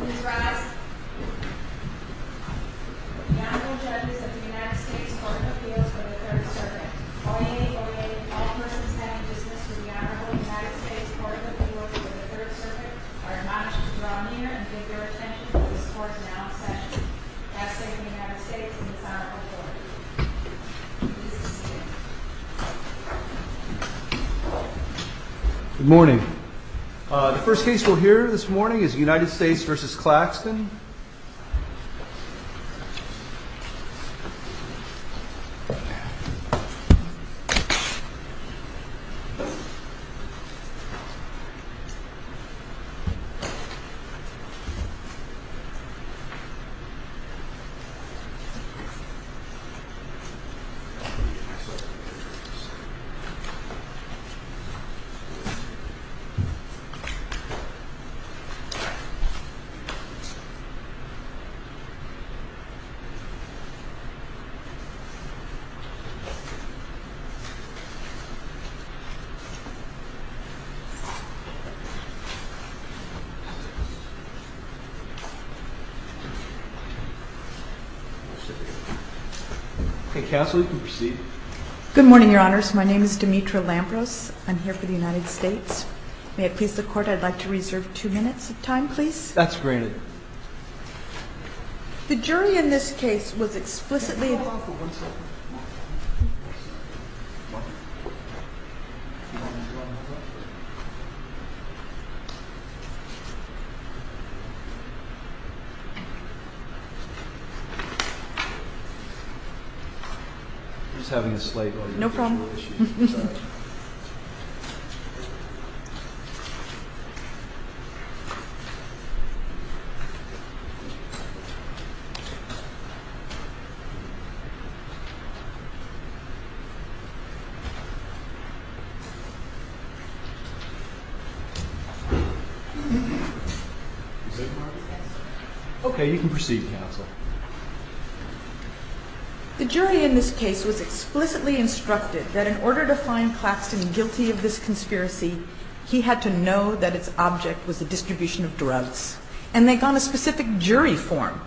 Ms. Ross, the Honorable Judges of the United States Court of Appeals for the Third Circuit. Oye, oye, all persons having business with the Honorable United States Court of Appeals for the Third Circuit are admonished to draw near and pay their attention to this court's announced session. I say to the United States and its Honorable Court, please be seated. Good morning. The first case we'll hear this morning is United States v. Claxton. Okay, Cassidy, you can proceed. Good morning, Your Honors. My name is Demetra Lambros. I'm here for the United States. May it please the Court, I'd like to reserve two minutes of time, please. That's granted. The jury in this case was explicitly... Can you hold off for one second? Just having a slight audio issue. No problem. Okay, you can proceed, Counsel. The jury in this case was explicitly instructed that in order to find Claxton guilty of this conspiracy, he had to know that its object was the distribution of drugs. And they got a specific jury form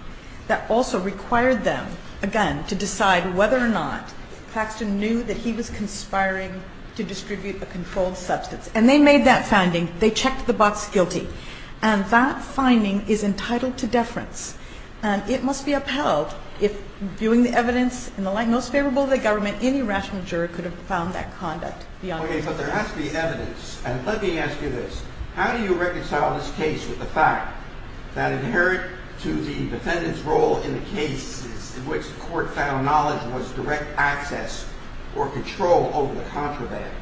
that also required them, again, to decide whether or not Claxton knew that he was conspiring to distribute a controlled substance. And they made that finding. They checked the box guilty. And that finding is entitled to deference. And it must be upheld if, viewing the evidence in the light most favorable to the government, any rational jury could have found that conduct beyond reasonable doubt. Okay, but there has to be evidence. And let me ask you this. How do you reconcile this case with the fact that inherent to the defendant's role in the case in which the Court found knowledge was direct access or control over the contraband?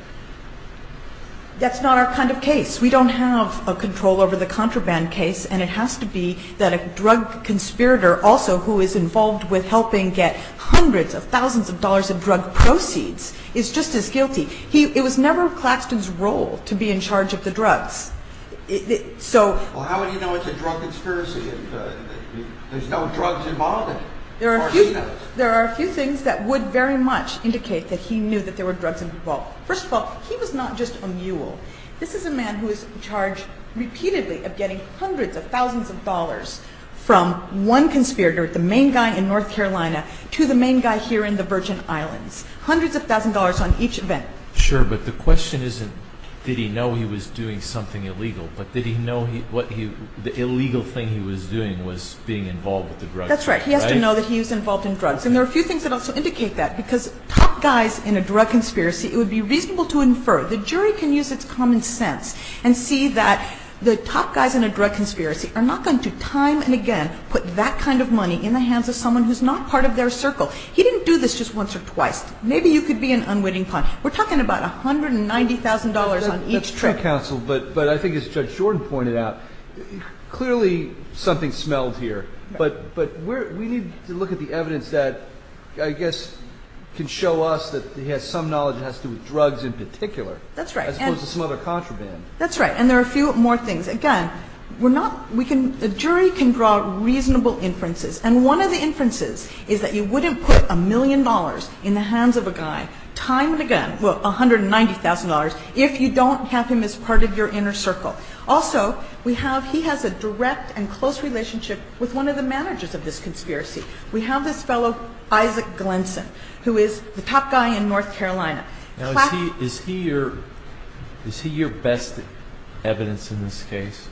That's not our kind of case. We don't have a control over the contraband case. And it has to be that a drug conspirator also who is involved with helping get hundreds of thousands of dollars in drug proceeds is just as guilty. It was never Claxton's role to be in charge of the drugs. Well, how would he know it's a drug conspiracy if there's no drugs involved? There are a few things that would very much indicate that he knew that there were drugs involved. First of all, he was not just a mule. This is a man who is charged repeatedly of getting hundreds of thousands of dollars from one conspirator, the main guy in North Carolina, to the main guy here in the Virgin Islands. Hundreds of thousands of dollars on each event. Sure, but the question isn't did he know he was doing something illegal, but did he know the illegal thing he was doing was being involved with the drugs? That's right. He has to know that he was involved in drugs. And there are a few things that also indicate that, because top guys in a drug conspiracy, it would be reasonable to infer. The jury can use its common sense and see that the top guys in a drug conspiracy are not going to time and again put that kind of money in the hands of someone who's not part of their circle. He didn't do this just once or twice. Maybe you could be an unwitting pawn. We're talking about $190,000 on each trip. But I think as Judge Jordan pointed out, clearly something smelled here. But we need to look at the evidence that I guess can show us that he has some knowledge that has to do with drugs in particular. That's right. As opposed to some other contraband. That's right. And there are a few more things. Again, the jury can draw reasonable inferences, and one of the inferences is that you wouldn't put a million dollars in the hands of a guy time and again, well, $190,000, if you don't have him as part of your inner circle. Also, we have, he has a direct and close relationship with one of the managers of this conspiracy. We have this fellow, Isaac Glenson, who is the top guy in North Carolina. Now, is he your best evidence in this case?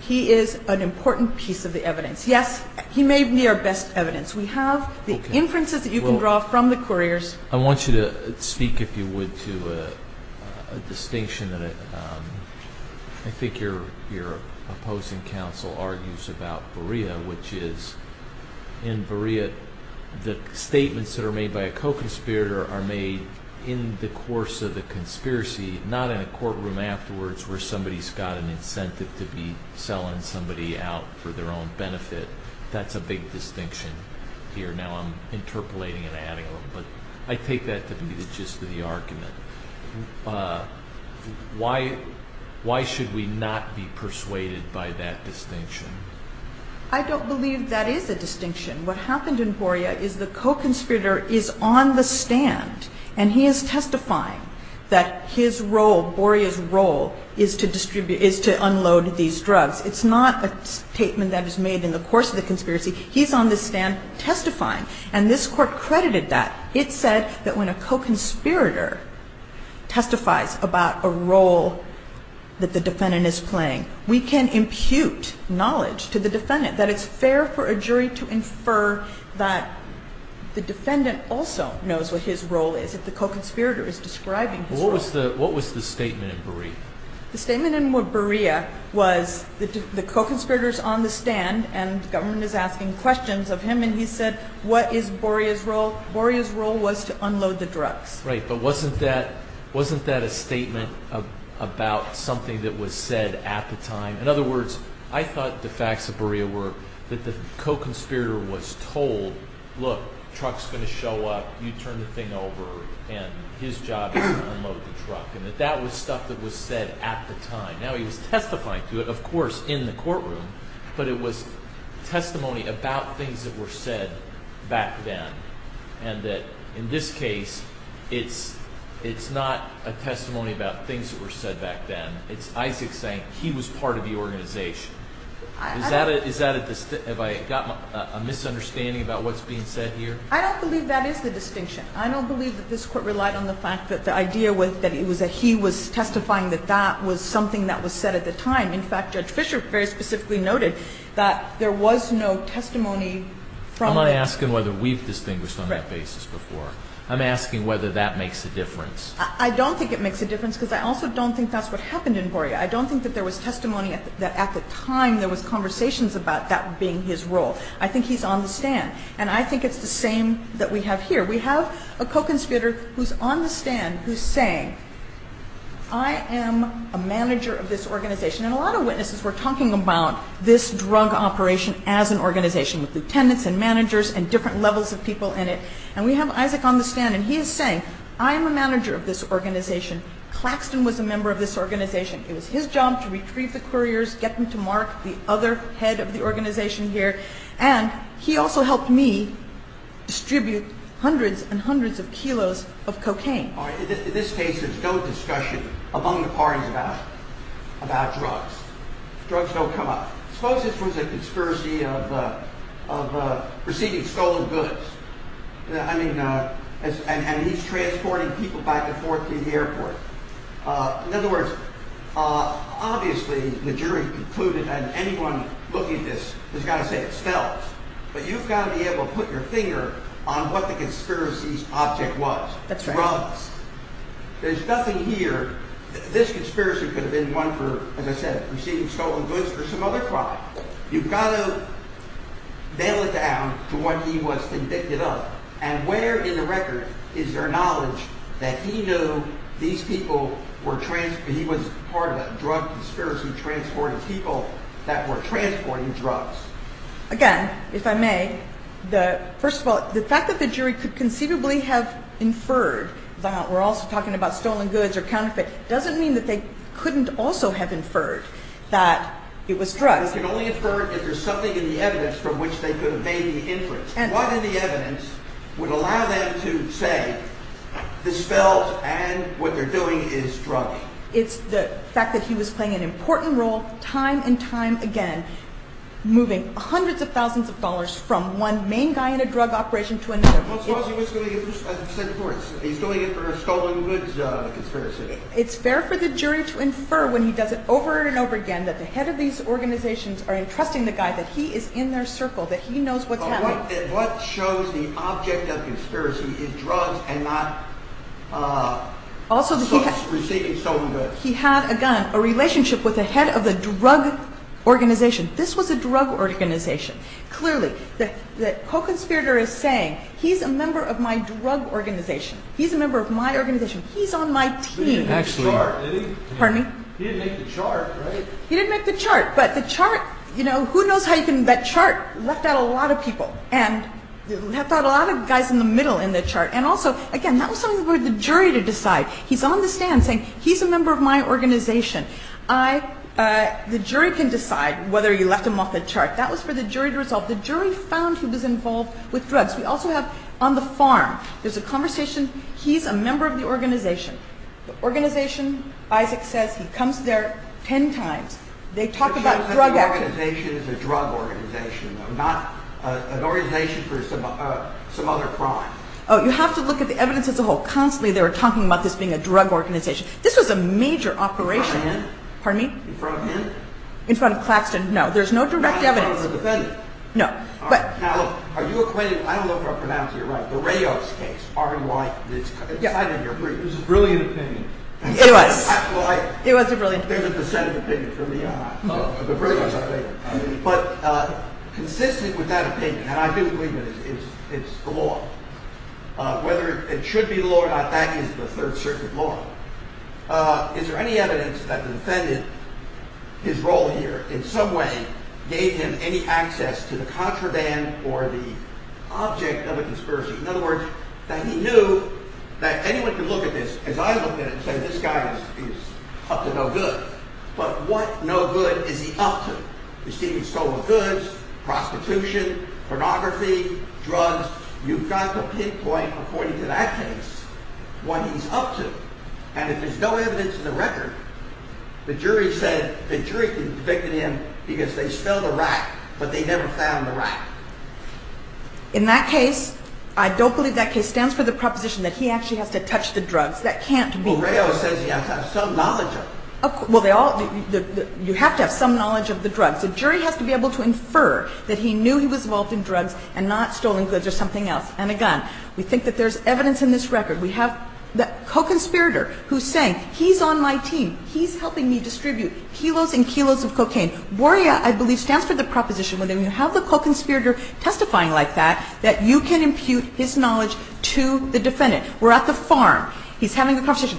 He is an important piece of the evidence. Yes, he may be our best evidence. We have the inferences that you can draw from the couriers. I want you to speak, if you would, to a distinction that I think your opposing counsel argues about Berea, which is in Berea, the statements that are made by a co-conspirator are made in the course of the conspiracy, not in a courtroom afterwards where somebody's got an incentive to be selling somebody out for their own benefit. That's a big distinction here. Now I'm interpolating and adding them, but I take that to be the gist of the argument. Why should we not be persuaded by that distinction? I don't believe that is a distinction. What happened in Berea is the co-conspirator is on the stand, and he is testifying that his role, Berea's role, is to unload these drugs. It's not a statement that is made in the course of the conspiracy. He's on the stand testifying. And this Court credited that. It said that when a co-conspirator testifies about a role that the defendant is playing, we can impute knowledge to the defendant that it's fair for a jury to infer that the defendant also knows what his role is, if the co-conspirator is describing his role. What was the statement in Berea? The co-conspirator is on the stand, and the government is asking questions of him, and he said, what is Berea's role? Berea's role was to unload the drugs. Right, but wasn't that a statement about something that was said at the time? In other words, I thought the facts of Berea were that the co-conspirator was told, look, truck's going to show up, you turn the thing over, and his job is to unload the truck, and that that was stuff that was said at the time. Now he was testifying to it, of course, in the courtroom, but it was testimony about things that were said back then, and that in this case, it's not a testimony about things that were said back then. It's Isaac saying he was part of the organization. Is that a – have I got a misunderstanding about what's being said here? I don't believe that is the distinction. I don't believe that this Court relied on the fact that the idea was that he was testifying, that that was something that was said at the time. In fact, Judge Fischer very specifically noted that there was no testimony from the – I'm not asking whether we've distinguished on that basis before. I'm asking whether that makes a difference. I don't think it makes a difference because I also don't think that's what happened in Berea. I don't think that there was testimony at the time there was conversations about that being his role. I think he's on the stand, and I think it's the same that we have here. We have a co-conspirator who's on the stand who's saying, I am a manager of this organization. And a lot of witnesses were talking about this drug operation as an organization with lieutenants and managers and different levels of people in it. And we have Isaac on the stand, and he is saying, I am a manager of this organization. Claxton was a member of this organization. It was his job to retrieve the couriers, get them to mark the other head of the organization here. And he also helped me distribute hundreds and hundreds of kilos of cocaine. All right. In this case, there's no discussion among the parties about drugs. Drugs don't come up. Suppose this was a conspiracy of receiving stolen goods. I mean, and he's transporting people back and forth to the airport. In other words, obviously, the jury concluded that anyone looking at this has got to say it spells. But you've got to be able to put your finger on what the conspiracy's object was. That's right. Drugs. There's nothing here. This conspiracy could have been one for, as I said, receiving stolen goods or some other crime. You've got to nail it down to what he was convicted of. And where in the record is there knowledge that he knew these people were, he was part of a drug conspiracy transporting people that were transporting drugs? Again, if I may, first of all, the fact that the jury could conceivably have inferred, we're also talking about stolen goods or counterfeit, doesn't mean that they couldn't also have inferred that it was drugs. They could only infer if there's something in the evidence from which they could have made the inference. What in the evidence would allow them to say this spells and what they're doing is drugs? It's the fact that he was playing an important role time and time again, moving hundreds of thousands of dollars from one main guy in a drug operation to another. Who's going to get sent to court? He's doing it for a stolen goods conspiracy. It's fair for the jury to infer when he does it over and over again that the head of these organizations are entrusting the guy that he is in their circle, that he knows what's happening. What shows the object of conspiracy is drugs and not receiving stolen goods? He had, again, a relationship with the head of the drug organization. This was a drug organization. Clearly, the co-conspirator is saying he's a member of my drug organization. He's a member of my organization. He's on my team. He didn't make the chart, did he? Pardon me? He didn't make the chart, right? He didn't make the chart. He didn't make the chart. But the chart, you know, who knows how you can – that chart left out a lot of people and left out a lot of guys in the middle in the chart. And also, again, that was something for the jury to decide. He's on the stand saying he's a member of my organization. The jury can decide whether he left him off the chart. That was for the jury to resolve. The jury found he was involved with drugs. We also have on the farm, there's a conversation. He's a member of the organization. The organization, Isaac says, he comes there ten times. They talk about drug activism. But your organization is a drug organization, though, not an organization for some other crime. Oh, you have to look at the evidence as a whole. Constantly they were talking about this being a drug organization. This was a major operation. In front of him? Pardon me? In front of him? In front of Claxton, no. There's no direct evidence. Not in front of the defendant? No. Now, look, are you acquainted – I don't know if I'm pronouncing it right – the Rios case, R-E-Y, it's inside of your brief. It was a brilliant opinion. It was. Well, I – It was a brilliant opinion. There's a dissenting opinion from me and I. Oh. It was a brilliant opinion. But consistent with that opinion, and I do believe it, is the law. Whether it should be the law or not, that is the Third Circuit law. Is there any evidence that the defendant, his role here in some way, gave him any access to the contraband or the object of a conspiracy? In other words, that he knew that anyone could look at this, as I look at it, and say this guy is up to no good. But what no good is he up to? He's stealing stolen goods, prostitution, pornography, drugs. You've got to pinpoint, according to that case, what he's up to. And if there's no evidence in the record, the jury said the jury convicted him because they smelled a rat but they never found the rat. In that case, I don't believe that case stands for the proposition that he actually has to touch the drugs. That can't be true. Well, Rao says he has to have some knowledge of it. Well, you have to have some knowledge of the drugs. The jury has to be able to infer that he knew he was involved in drugs and not stolen goods or something else, and a gun. We think that there's evidence in this record. We have the co-conspirator who's saying he's on my team. He's helping me distribute kilos and kilos of cocaine. BORIA, I believe, stands for the proposition where you have the co-conspirator testifying like that, that you can impute his knowledge to the defendant. We're at the farm. He's having a conversation.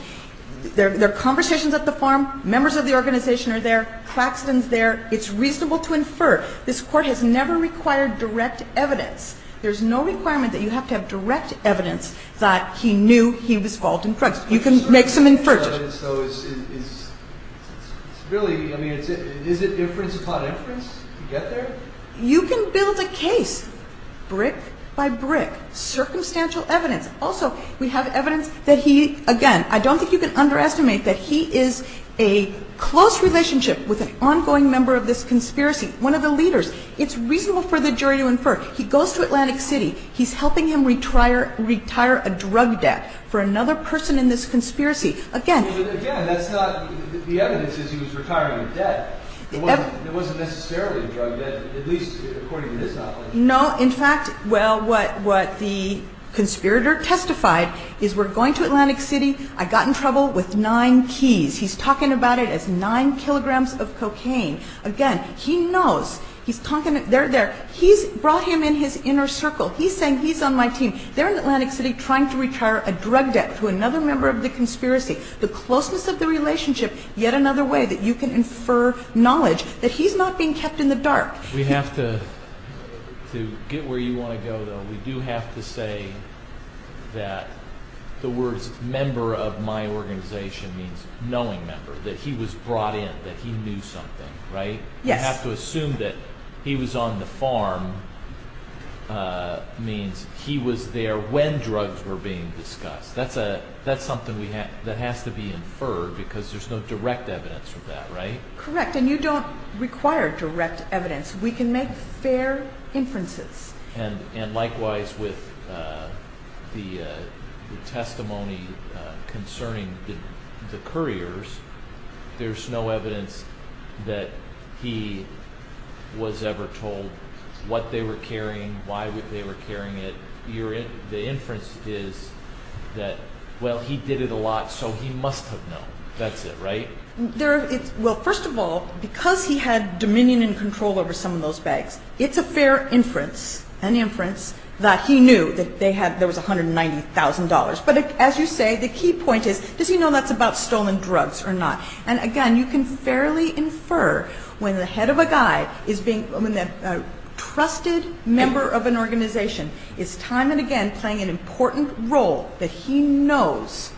They're conversations at the farm. Members of the organization are there. Claxton's there. It's reasonable to infer. This Court has never required direct evidence. There's no requirement that you have to have direct evidence that he knew he was involved in drugs. You can make some inferences. So it's really, I mean, is it inference upon inference to get there? You can build a case brick by brick, circumstantial evidence. Also, we have evidence that he, again, I don't think you can underestimate that he is a close relationship with an ongoing member of this conspiracy, one of the leaders. It's reasonable for the jury to infer. He goes to Atlantic City. He's helping him retire a drug debt for another person in this conspiracy. Again. But, again, that's not the evidence that he was retiring a debt. It wasn't necessarily a drug debt, at least according to this op-ed. No. In fact, well, what the conspirator testified is we're going to Atlantic City. I got in trouble with nine keys. He's talking about it as nine kilograms of cocaine. Again, he knows. He's talking. They're there. He's brought him in his inner circle. He's saying he's on my team. They're in Atlantic City trying to retire a drug debt to another member of the conspiracy. The closeness of the relationship, yet another way that you can infer knowledge that he's not being kept in the dark. We have to get where you want to go, though. We do have to say that the words member of my organization means knowing member, that he was brought in, that he knew something, right? Yes. You have to assume that he was on the farm means he was there when drugs were being discussed. That's something that has to be inferred because there's no direct evidence for that, right? Correct. And you don't require direct evidence. We can make fair inferences. And likewise with the testimony concerning the couriers, there's no evidence that he was ever told what they were carrying, why they were carrying it. The inference is that, well, he did it a lot, so he must have known. That's it, right? Well, first of all, because he had dominion and control over some of those bags, it's a fair inference, an inference, that he knew that there was $190,000. But as you say, the key point is, does he know that's about stolen drugs or not? And, again, you can fairly infer when the head of a guy is being – when a trusted member of an organization is time and again playing an important role that he knows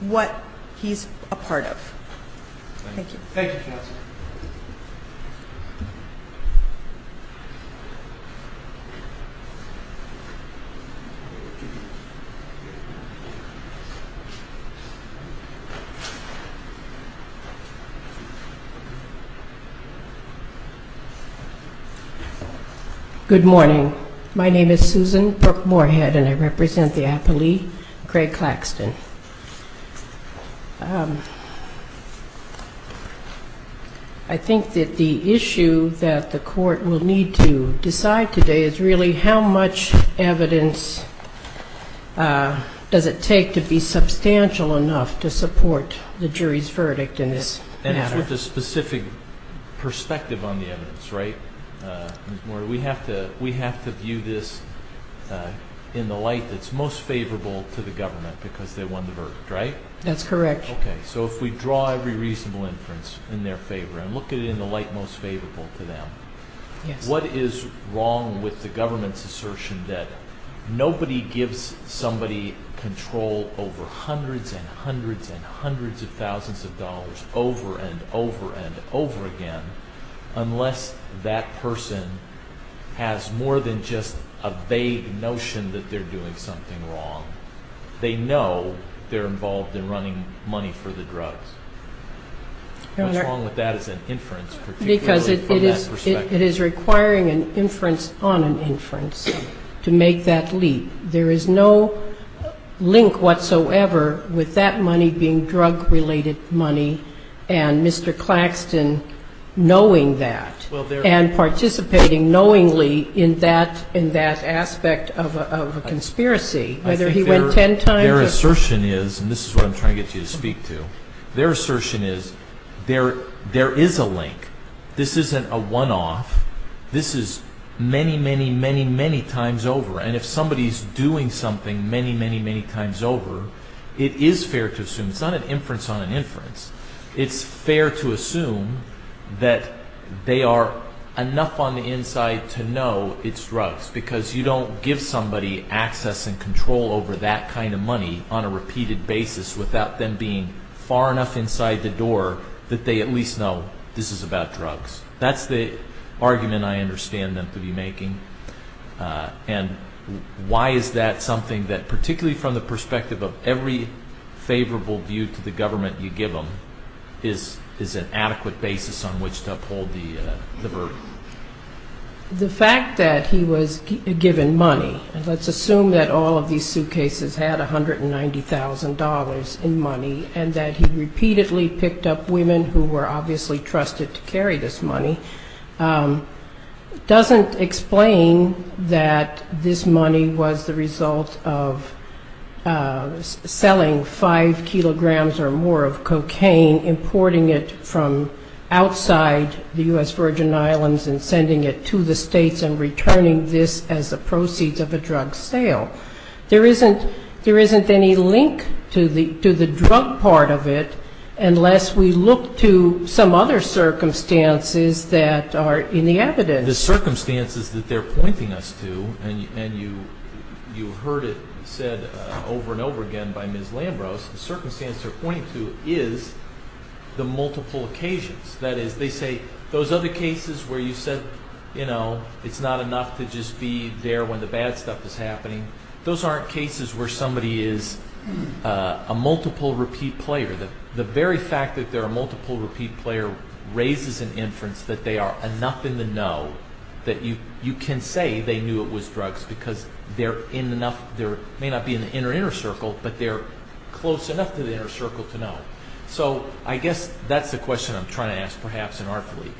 what he's a part of. Thank you. Thank you, counsel. Good morning. My name is Susan Brook-Moorhead, and I represent the appellee, Craig Claxton. I think that the issue that the court will need to decide today is really how much evidence does it take to be substantial enough to support the jury's verdict in this matter. And it's with a specific perspective on the evidence, right? We have to view this in the light that's most favorable to the government because they won the verdict, right? That's correct. Okay, so if we draw every reasonable inference in their favor and look at it in the light most favorable to them, what is wrong with the government's assertion that nobody gives somebody control over hundreds and hundreds and hundreds of thousands of dollars over and over and over again unless that person has more than just a vague notion that they're doing something wrong? They know they're involved in running money for the drugs. What's wrong with that as an inference, particularly from that perspective? Because it is requiring an inference on an inference to make that leap. There is no link whatsoever with that money being drug-related money and Mr. Claxton knowing that and participating knowingly in that aspect of a conspiracy. I think their assertion is, and this is what I'm trying to get you to speak to, their assertion is there is a link. This isn't a one-off. This is many, many, many, many times over. And if somebody's doing something many, many, many times over, it is fair to assume, it's not an inference on an inference, it's fair to assume that they are enough on the inside to know it's drugs because you don't give somebody access and control over that kind of money on a repeated basis without them being far enough inside the door that they at least know this is about drugs. That's the argument I understand them to be making. And why is that something that, particularly from the perspective of every favorable view to the government you give them, is an adequate basis on which to uphold the verdict? The fact that he was given money, and let's assume that all of these suitcases had $190,000 in money and that he repeatedly picked up women who were obviously trusted to carry this money, doesn't explain that this money was the result of selling five kilograms or more of cocaine, importing it from outside the U.S. Virgin Islands and sending it to the states and returning this as the proceeds of a drug sale. There isn't any link to the drug part of it unless we look to some other circumstances that are in the evidence. The circumstances that they're pointing us to, and you heard it said over and over again by Ms. Lambrose, the circumstances they're pointing to is the multiple occasions. That is, they say those other cases where you said it's not enough to just be there when the bad stuff is happening, those aren't cases where somebody is a multiple repeat player. The very fact that they're a multiple repeat player raises an inference that they are enough in the know that you can say they knew it was drugs because they may not be in the inner inner circle, but they're close enough to the inner circle to know. So I guess that's the question I'm trying to ask, perhaps inartfully.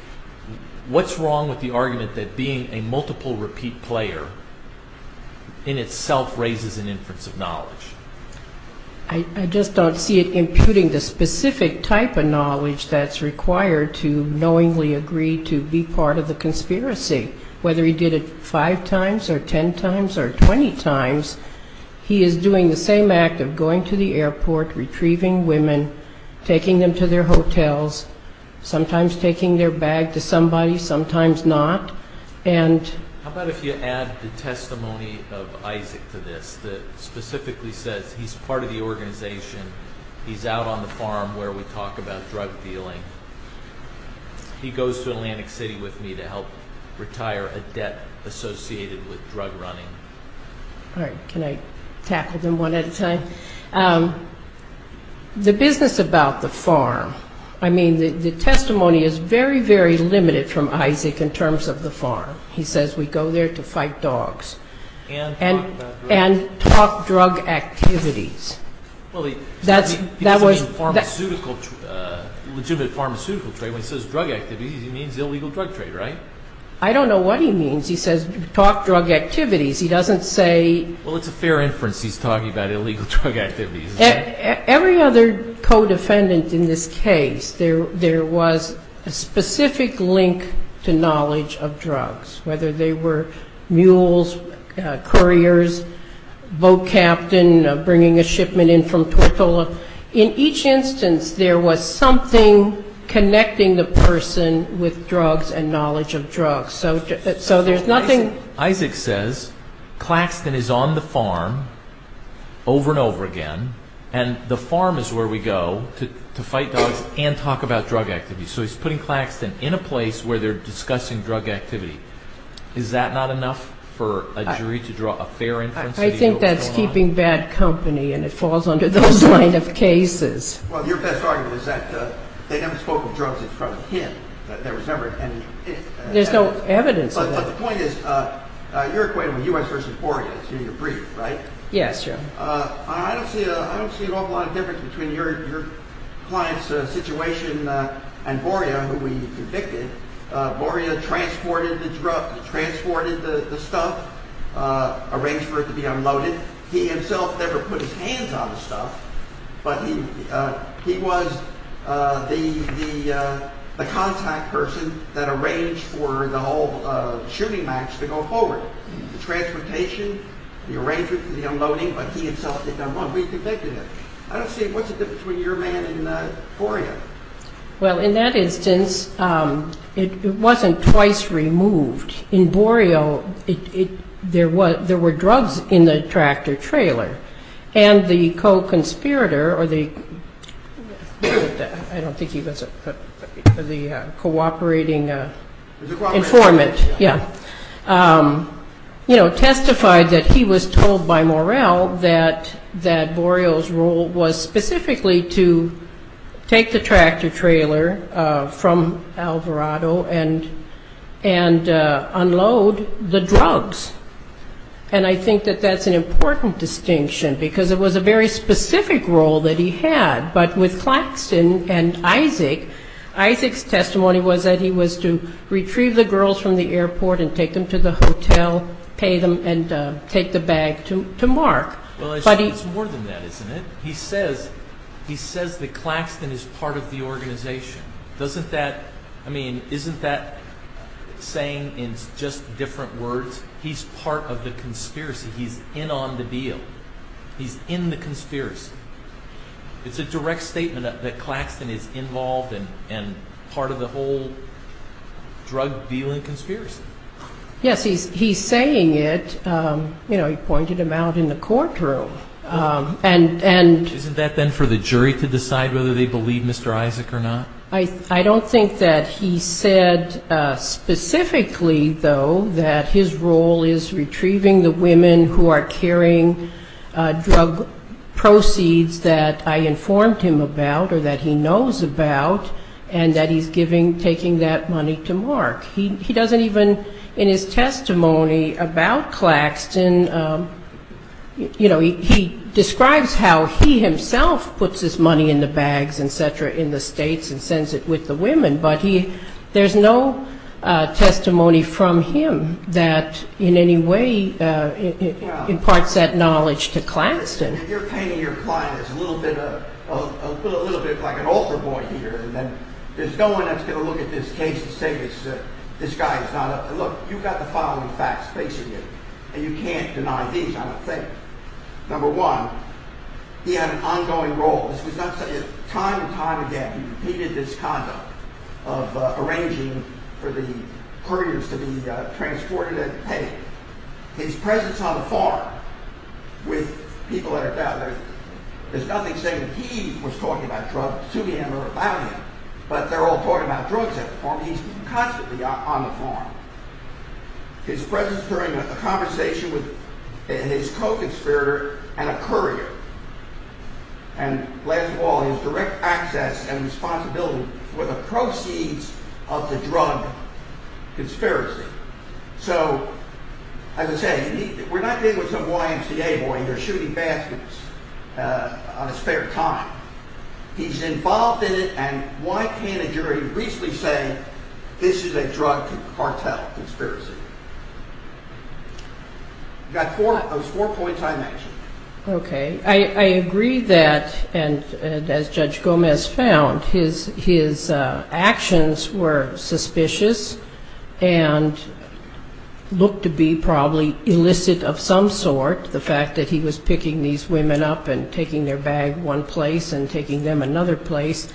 What's wrong with the argument that being a multiple repeat player in itself raises an inference of knowledge? I just don't see it imputing the specific type of knowledge that's required to knowingly agree to be part of the conspiracy, whether he did it five times or ten times or twenty times. He is doing the same act of going to the airport, retrieving women, taking them to their hotels, sometimes taking their bag to somebody, sometimes not. How about if you add the testimony of Isaac to this that specifically says he's part of the organization, he's out on the farm where we talk about drug dealing, he goes to Atlantic City with me to help retire a debt associated with drug running. Can I tackle them one at a time? The business about the farm, I mean the testimony is very, very limited from Isaac in terms of the farm. He says we go there to fight dogs and talk drug activities. He says legitimate pharmaceutical trade, when he says drug activities he means illegal drug trade, right? I don't know what he means. He says talk drug activities. Every other co-defendant in this case, there was a specific link to knowledge of drugs, whether they were mules, couriers, boat captain bringing a shipment in from Tortola. In each instance there was something connecting the person with drugs and knowledge of drugs. So there's nothing. Isaac says Claxton is on the farm over and over again and the farm is where we go to fight dogs and talk about drug activities. So he's putting Claxton in a place where they're discussing drug activity. Is that not enough for a jury to draw a fair inference? I think that's keeping bad company and it falls under those kind of cases. Well, your best argument is that they never spoke of drugs in front of him. There's no evidence of that. But the point is, you're acquainted with U.S. v. Borea. It's in your brief, right? I don't see an awful lot of difference between your client's situation and Borea, who we convicted. Borea transported the stuff, arranged for it to be unloaded. And he himself never put his hands on the stuff, but he was the contact person that arranged for the whole shooting match to go forward. The transportation, the arrangement for the unloading, but he himself did not want to be convicted of it. I don't see what's the difference between your man and Borea. Well, in that instance, it wasn't twice removed. In Borea, there were drugs in the tractor-trailer. And the co-conspirator, I don't think he was the cooperating informant, testified that he was told by Morel that Borea's role was specifically to take the tractor-trailer, from Alvarado, and unload the drugs. And I think that that's an important distinction, because it was a very specific role that he had. But with Claxton and Isaac, Isaac's testimony was that he was to retrieve the girls from the airport and take them to the hotel, pay them, and take the bag to Mark. Well, it's more than that, isn't it? He says that Claxton is part of the organization. I mean, isn't that saying in just different words, he's part of the conspiracy? He's in on the deal. He's in the conspiracy. It's a direct statement that Claxton is involved and part of the whole drug-dealing conspiracy. Yes, he's saying it. You know, he pointed him out in the courtroom. Isn't that then for the jury to decide whether they believe Mr. Isaac or not? I don't think that he said specifically, though, that his role is retrieving the women who are carrying drug proceeds that I informed him about or that he knows about, and that he's taking that money to Mark. He doesn't even, in his testimony about Claxton, you know, he describes how he himself puts his money in the bags, et cetera, in the states and sends it with the women. But there's no testimony from him that in any way imparts that knowledge to Claxton. You're painting your client as a little bit like an altar boy here. And then there's no one that's going to look at this case and say this guy is not – look, you've got the following facts facing you, and you can't deny these, I don't think. Number one, he had an ongoing role. This was not – time and time again, he repeated this conduct of arranging for the herders to be transported and paid. His presence on the farm with people at a gathering, there's nothing saying he was talking about drugs to him or about him. But they're all talking about drugs at the farm. He's constantly on the farm. His presence during a conversation with his co-conspirator and a courier. And last of all, his direct access and responsibility for the proceeds of the drug conspiracy. So, as I say, we're not dealing with some YMCA boy who's shooting baskets on his spare time. He's involved in it, and why can't a jury briefly say this is a drug cartel conspiracy? You've got those four points I mentioned. Okay. I agree that, and as Judge Gomez found, his actions were suspicious and looked to be probably illicit of some sort. The fact that he was picking these women up and taking their bag one place and taking them another place.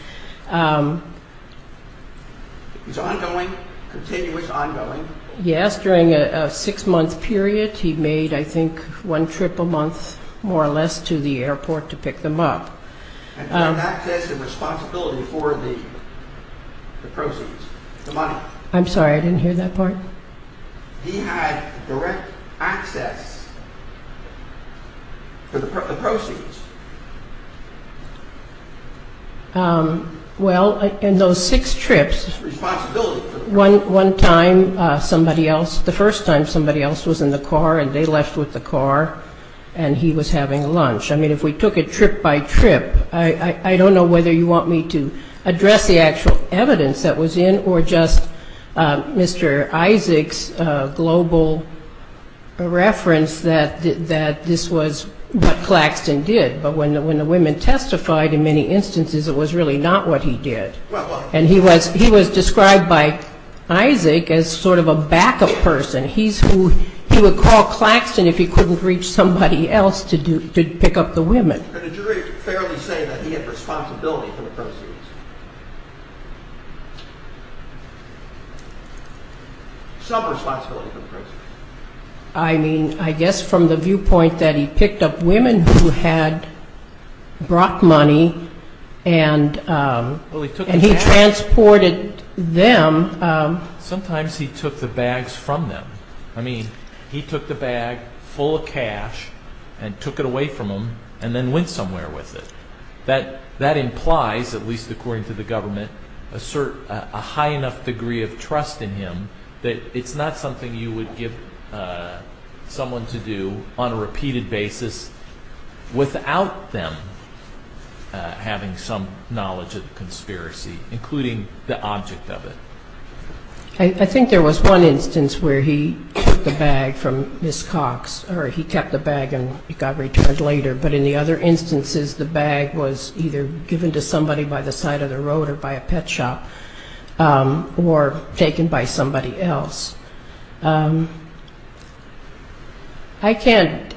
Yes, during a six-month period, he made, I think, one trip a month, more or less, to the airport to pick them up. I'm sorry, I didn't hear that part. The proceeds. Well, in those six trips, one time somebody else, the first time somebody else was in the car, and they left with the car, and he was having lunch. I mean, if we took it trip by trip, I don't know whether you want me to address the actual evidence that was in, or just Mr. Isaac's global reference that this was what Claxton did, but when the women testified, in many instances, it was really not what he did. And he was described by Isaac as sort of a backup person. He would call Claxton if he couldn't reach somebody else to pick up the women. And did the jury fairly say that he had responsibility for the proceeds? Some responsibility for the proceeds. I mean, I guess from the viewpoint that he picked up women who had brought money and he transported them. Sometimes he took the bags from them. I mean, he took the bag full of cash and took it away from them and then went somewhere with it. That implies, at least according to the government, a high enough degree of trust in him that it's not something you would give someone to do on a repeated basis without them having some knowledge of the conspiracy, including the object of it. I think there was one instance where he took the bag from Ms. Cox, or he kept the bag and it got returned later. But in the other instances, the bag was either given to somebody by the side of the road or by a pet shop, or taken by somebody else. I can't,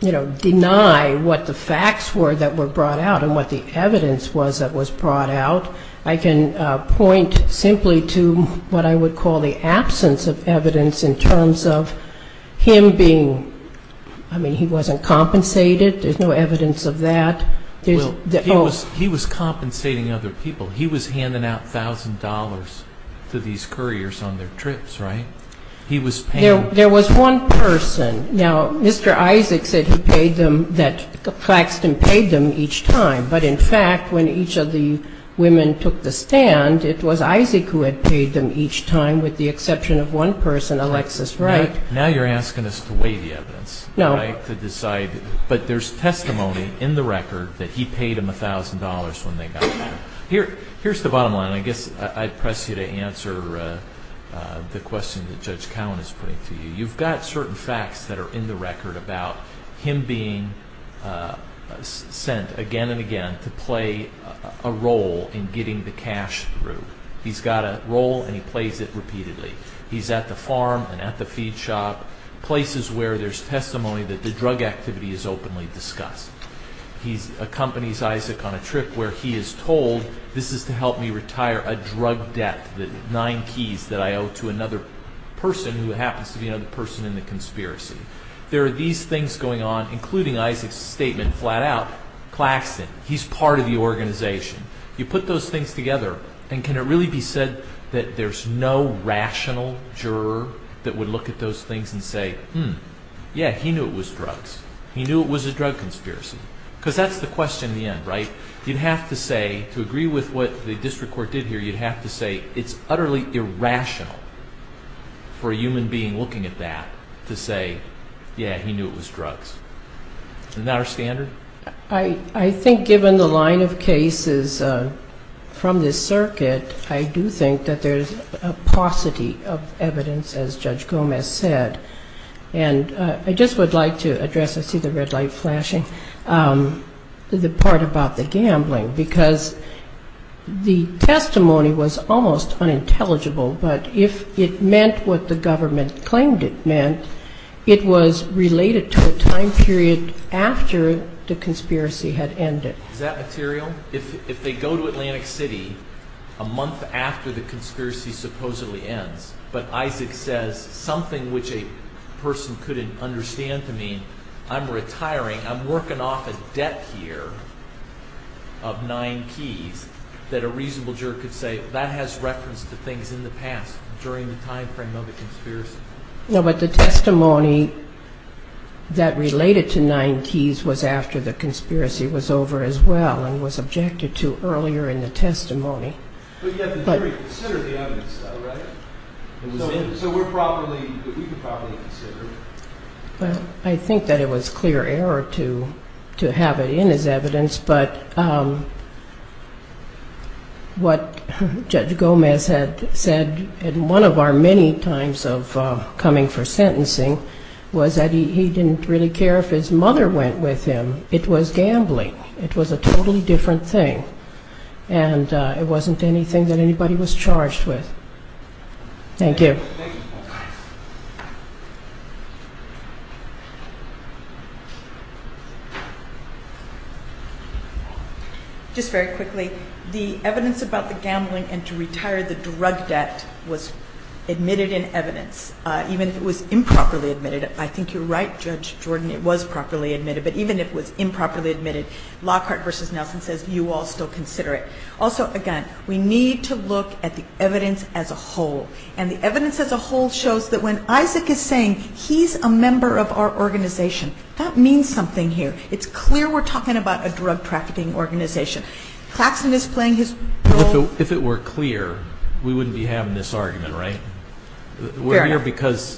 you know, deny what the facts were that were brought out and what the evidence was that was brought out. I can point simply to what I would call the absence of evidence in terms of him being, I mean, he wasn't compensated. There's no evidence of that. He was compensating other people. He was handing out $1,000 to these couriers on their trips, right? He was paying. There was one person. Now, Mr. Isaac said he paid them, that Claxton paid them each time. But in fact, when each of the women took the stand, it was Isaac who had paid them each time, with the exception of one person, Alexis Wright. Now you're asking us to weigh the evidence, right, to decide, but there's testimony in the record that he paid them $1,000 when they got there. Here's the bottom line. And I guess I'd press you to answer the question that Judge Cowen is putting to you. You've got certain facts that are in the record about him being sent again and again to play a role in getting the cash through. He's got a role and he plays it repeatedly. He's at the farm and at the feed shop, places where there's testimony that the drug activity is openly discussed. He accompanies Isaac on a trip where he is told, this is to help me retire a drug debt, the nine keys that I owe to another person who happens to be another person in the conspiracy. There are these things going on, including Isaac's statement flat out, Claxton, he's part of the organization. You put those things together, and can it really be said that there's no rational juror that would look at those things and say, hmm, yeah, he knew it was drugs. He knew it was a drug conspiracy. Because that's the question in the end, right? You'd have to say, to agree with what the district court did here, you'd have to say it's utterly irrational for a human being looking at that to say, yeah, he knew it was drugs. Isn't that our standard? I think given the line of cases from this circuit, I do think that there's a paucity of evidence, as Judge Gomez said. And I just would like to address, I see the red light flashing, the part about the gambling. Because the testimony was almost unintelligible, but if it meant what the government claimed it meant, it was related to a time period after the conspiracy had ended. Is that material? If they go to Atlantic City a month after the conspiracy supposedly ends, but Isaac says something which a person couldn't understand to mean, I'm retiring, I'm working off a debt here of nine keys, that a reasonable juror could say, that has reference to things in the past, during the time frame of the conspiracy. No, but the testimony that related to nine keys was after the conspiracy was over as well, and was about a month after the conspiracy. I think it was clear error to have it in his evidence, but what Judge Gomez had said in one of our many times of coming for sentencing, was that he didn't really care if his mother went with him. It was gambling, it was a totally different thing, and it wasn't anything that anybody was charged with. Thank you. Just very quickly, the evidence about the gambling and to retire the drug debt was admitted in evidence, even if it was improperly admitted. I think you're right, Judge Jordan, it was properly admitted, but even if it was improperly admitted, Lockhart v. Nelson says you all still consider it. Also, again, we need to look at the evidence as a whole, and the evidence as a whole shows that when Isaac is saying he's a member of our organization, that means something here. It's clear we're talking about a drug trafficking organization. If it were clear, we wouldn't be having this argument, right? But does that mean that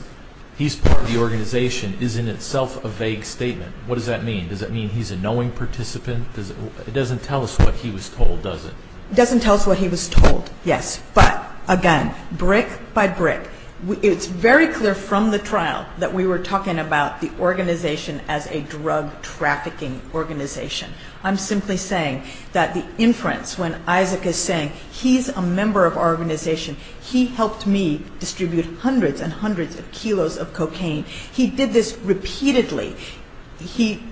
his organization is in itself a vague statement? What does that mean? Does that mean he's a knowing participant? It doesn't tell us what he was told, does it? It doesn't tell us what he was told, yes. But, again, brick by brick. It's very clear from the trial that we were talking about the organization as a drug trafficking organization. I'm simply saying that the inference when Isaac is saying he's a member of our organization, he helped me distribute hundreds and hundreds of kilos of cocaine, he did this repeatedly, he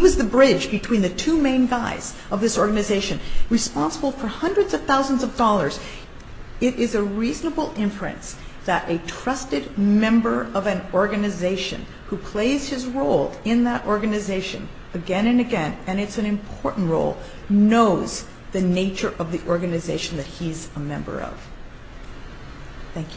was the bridge between the two main guys of this organization, responsible for hundreds of thousands of dollars. It is a reasonable inference that a trusted member of an organization who plays his role in that organization again and again, and it's an important role, knows the nature of the organization that he's a member of. Thank you.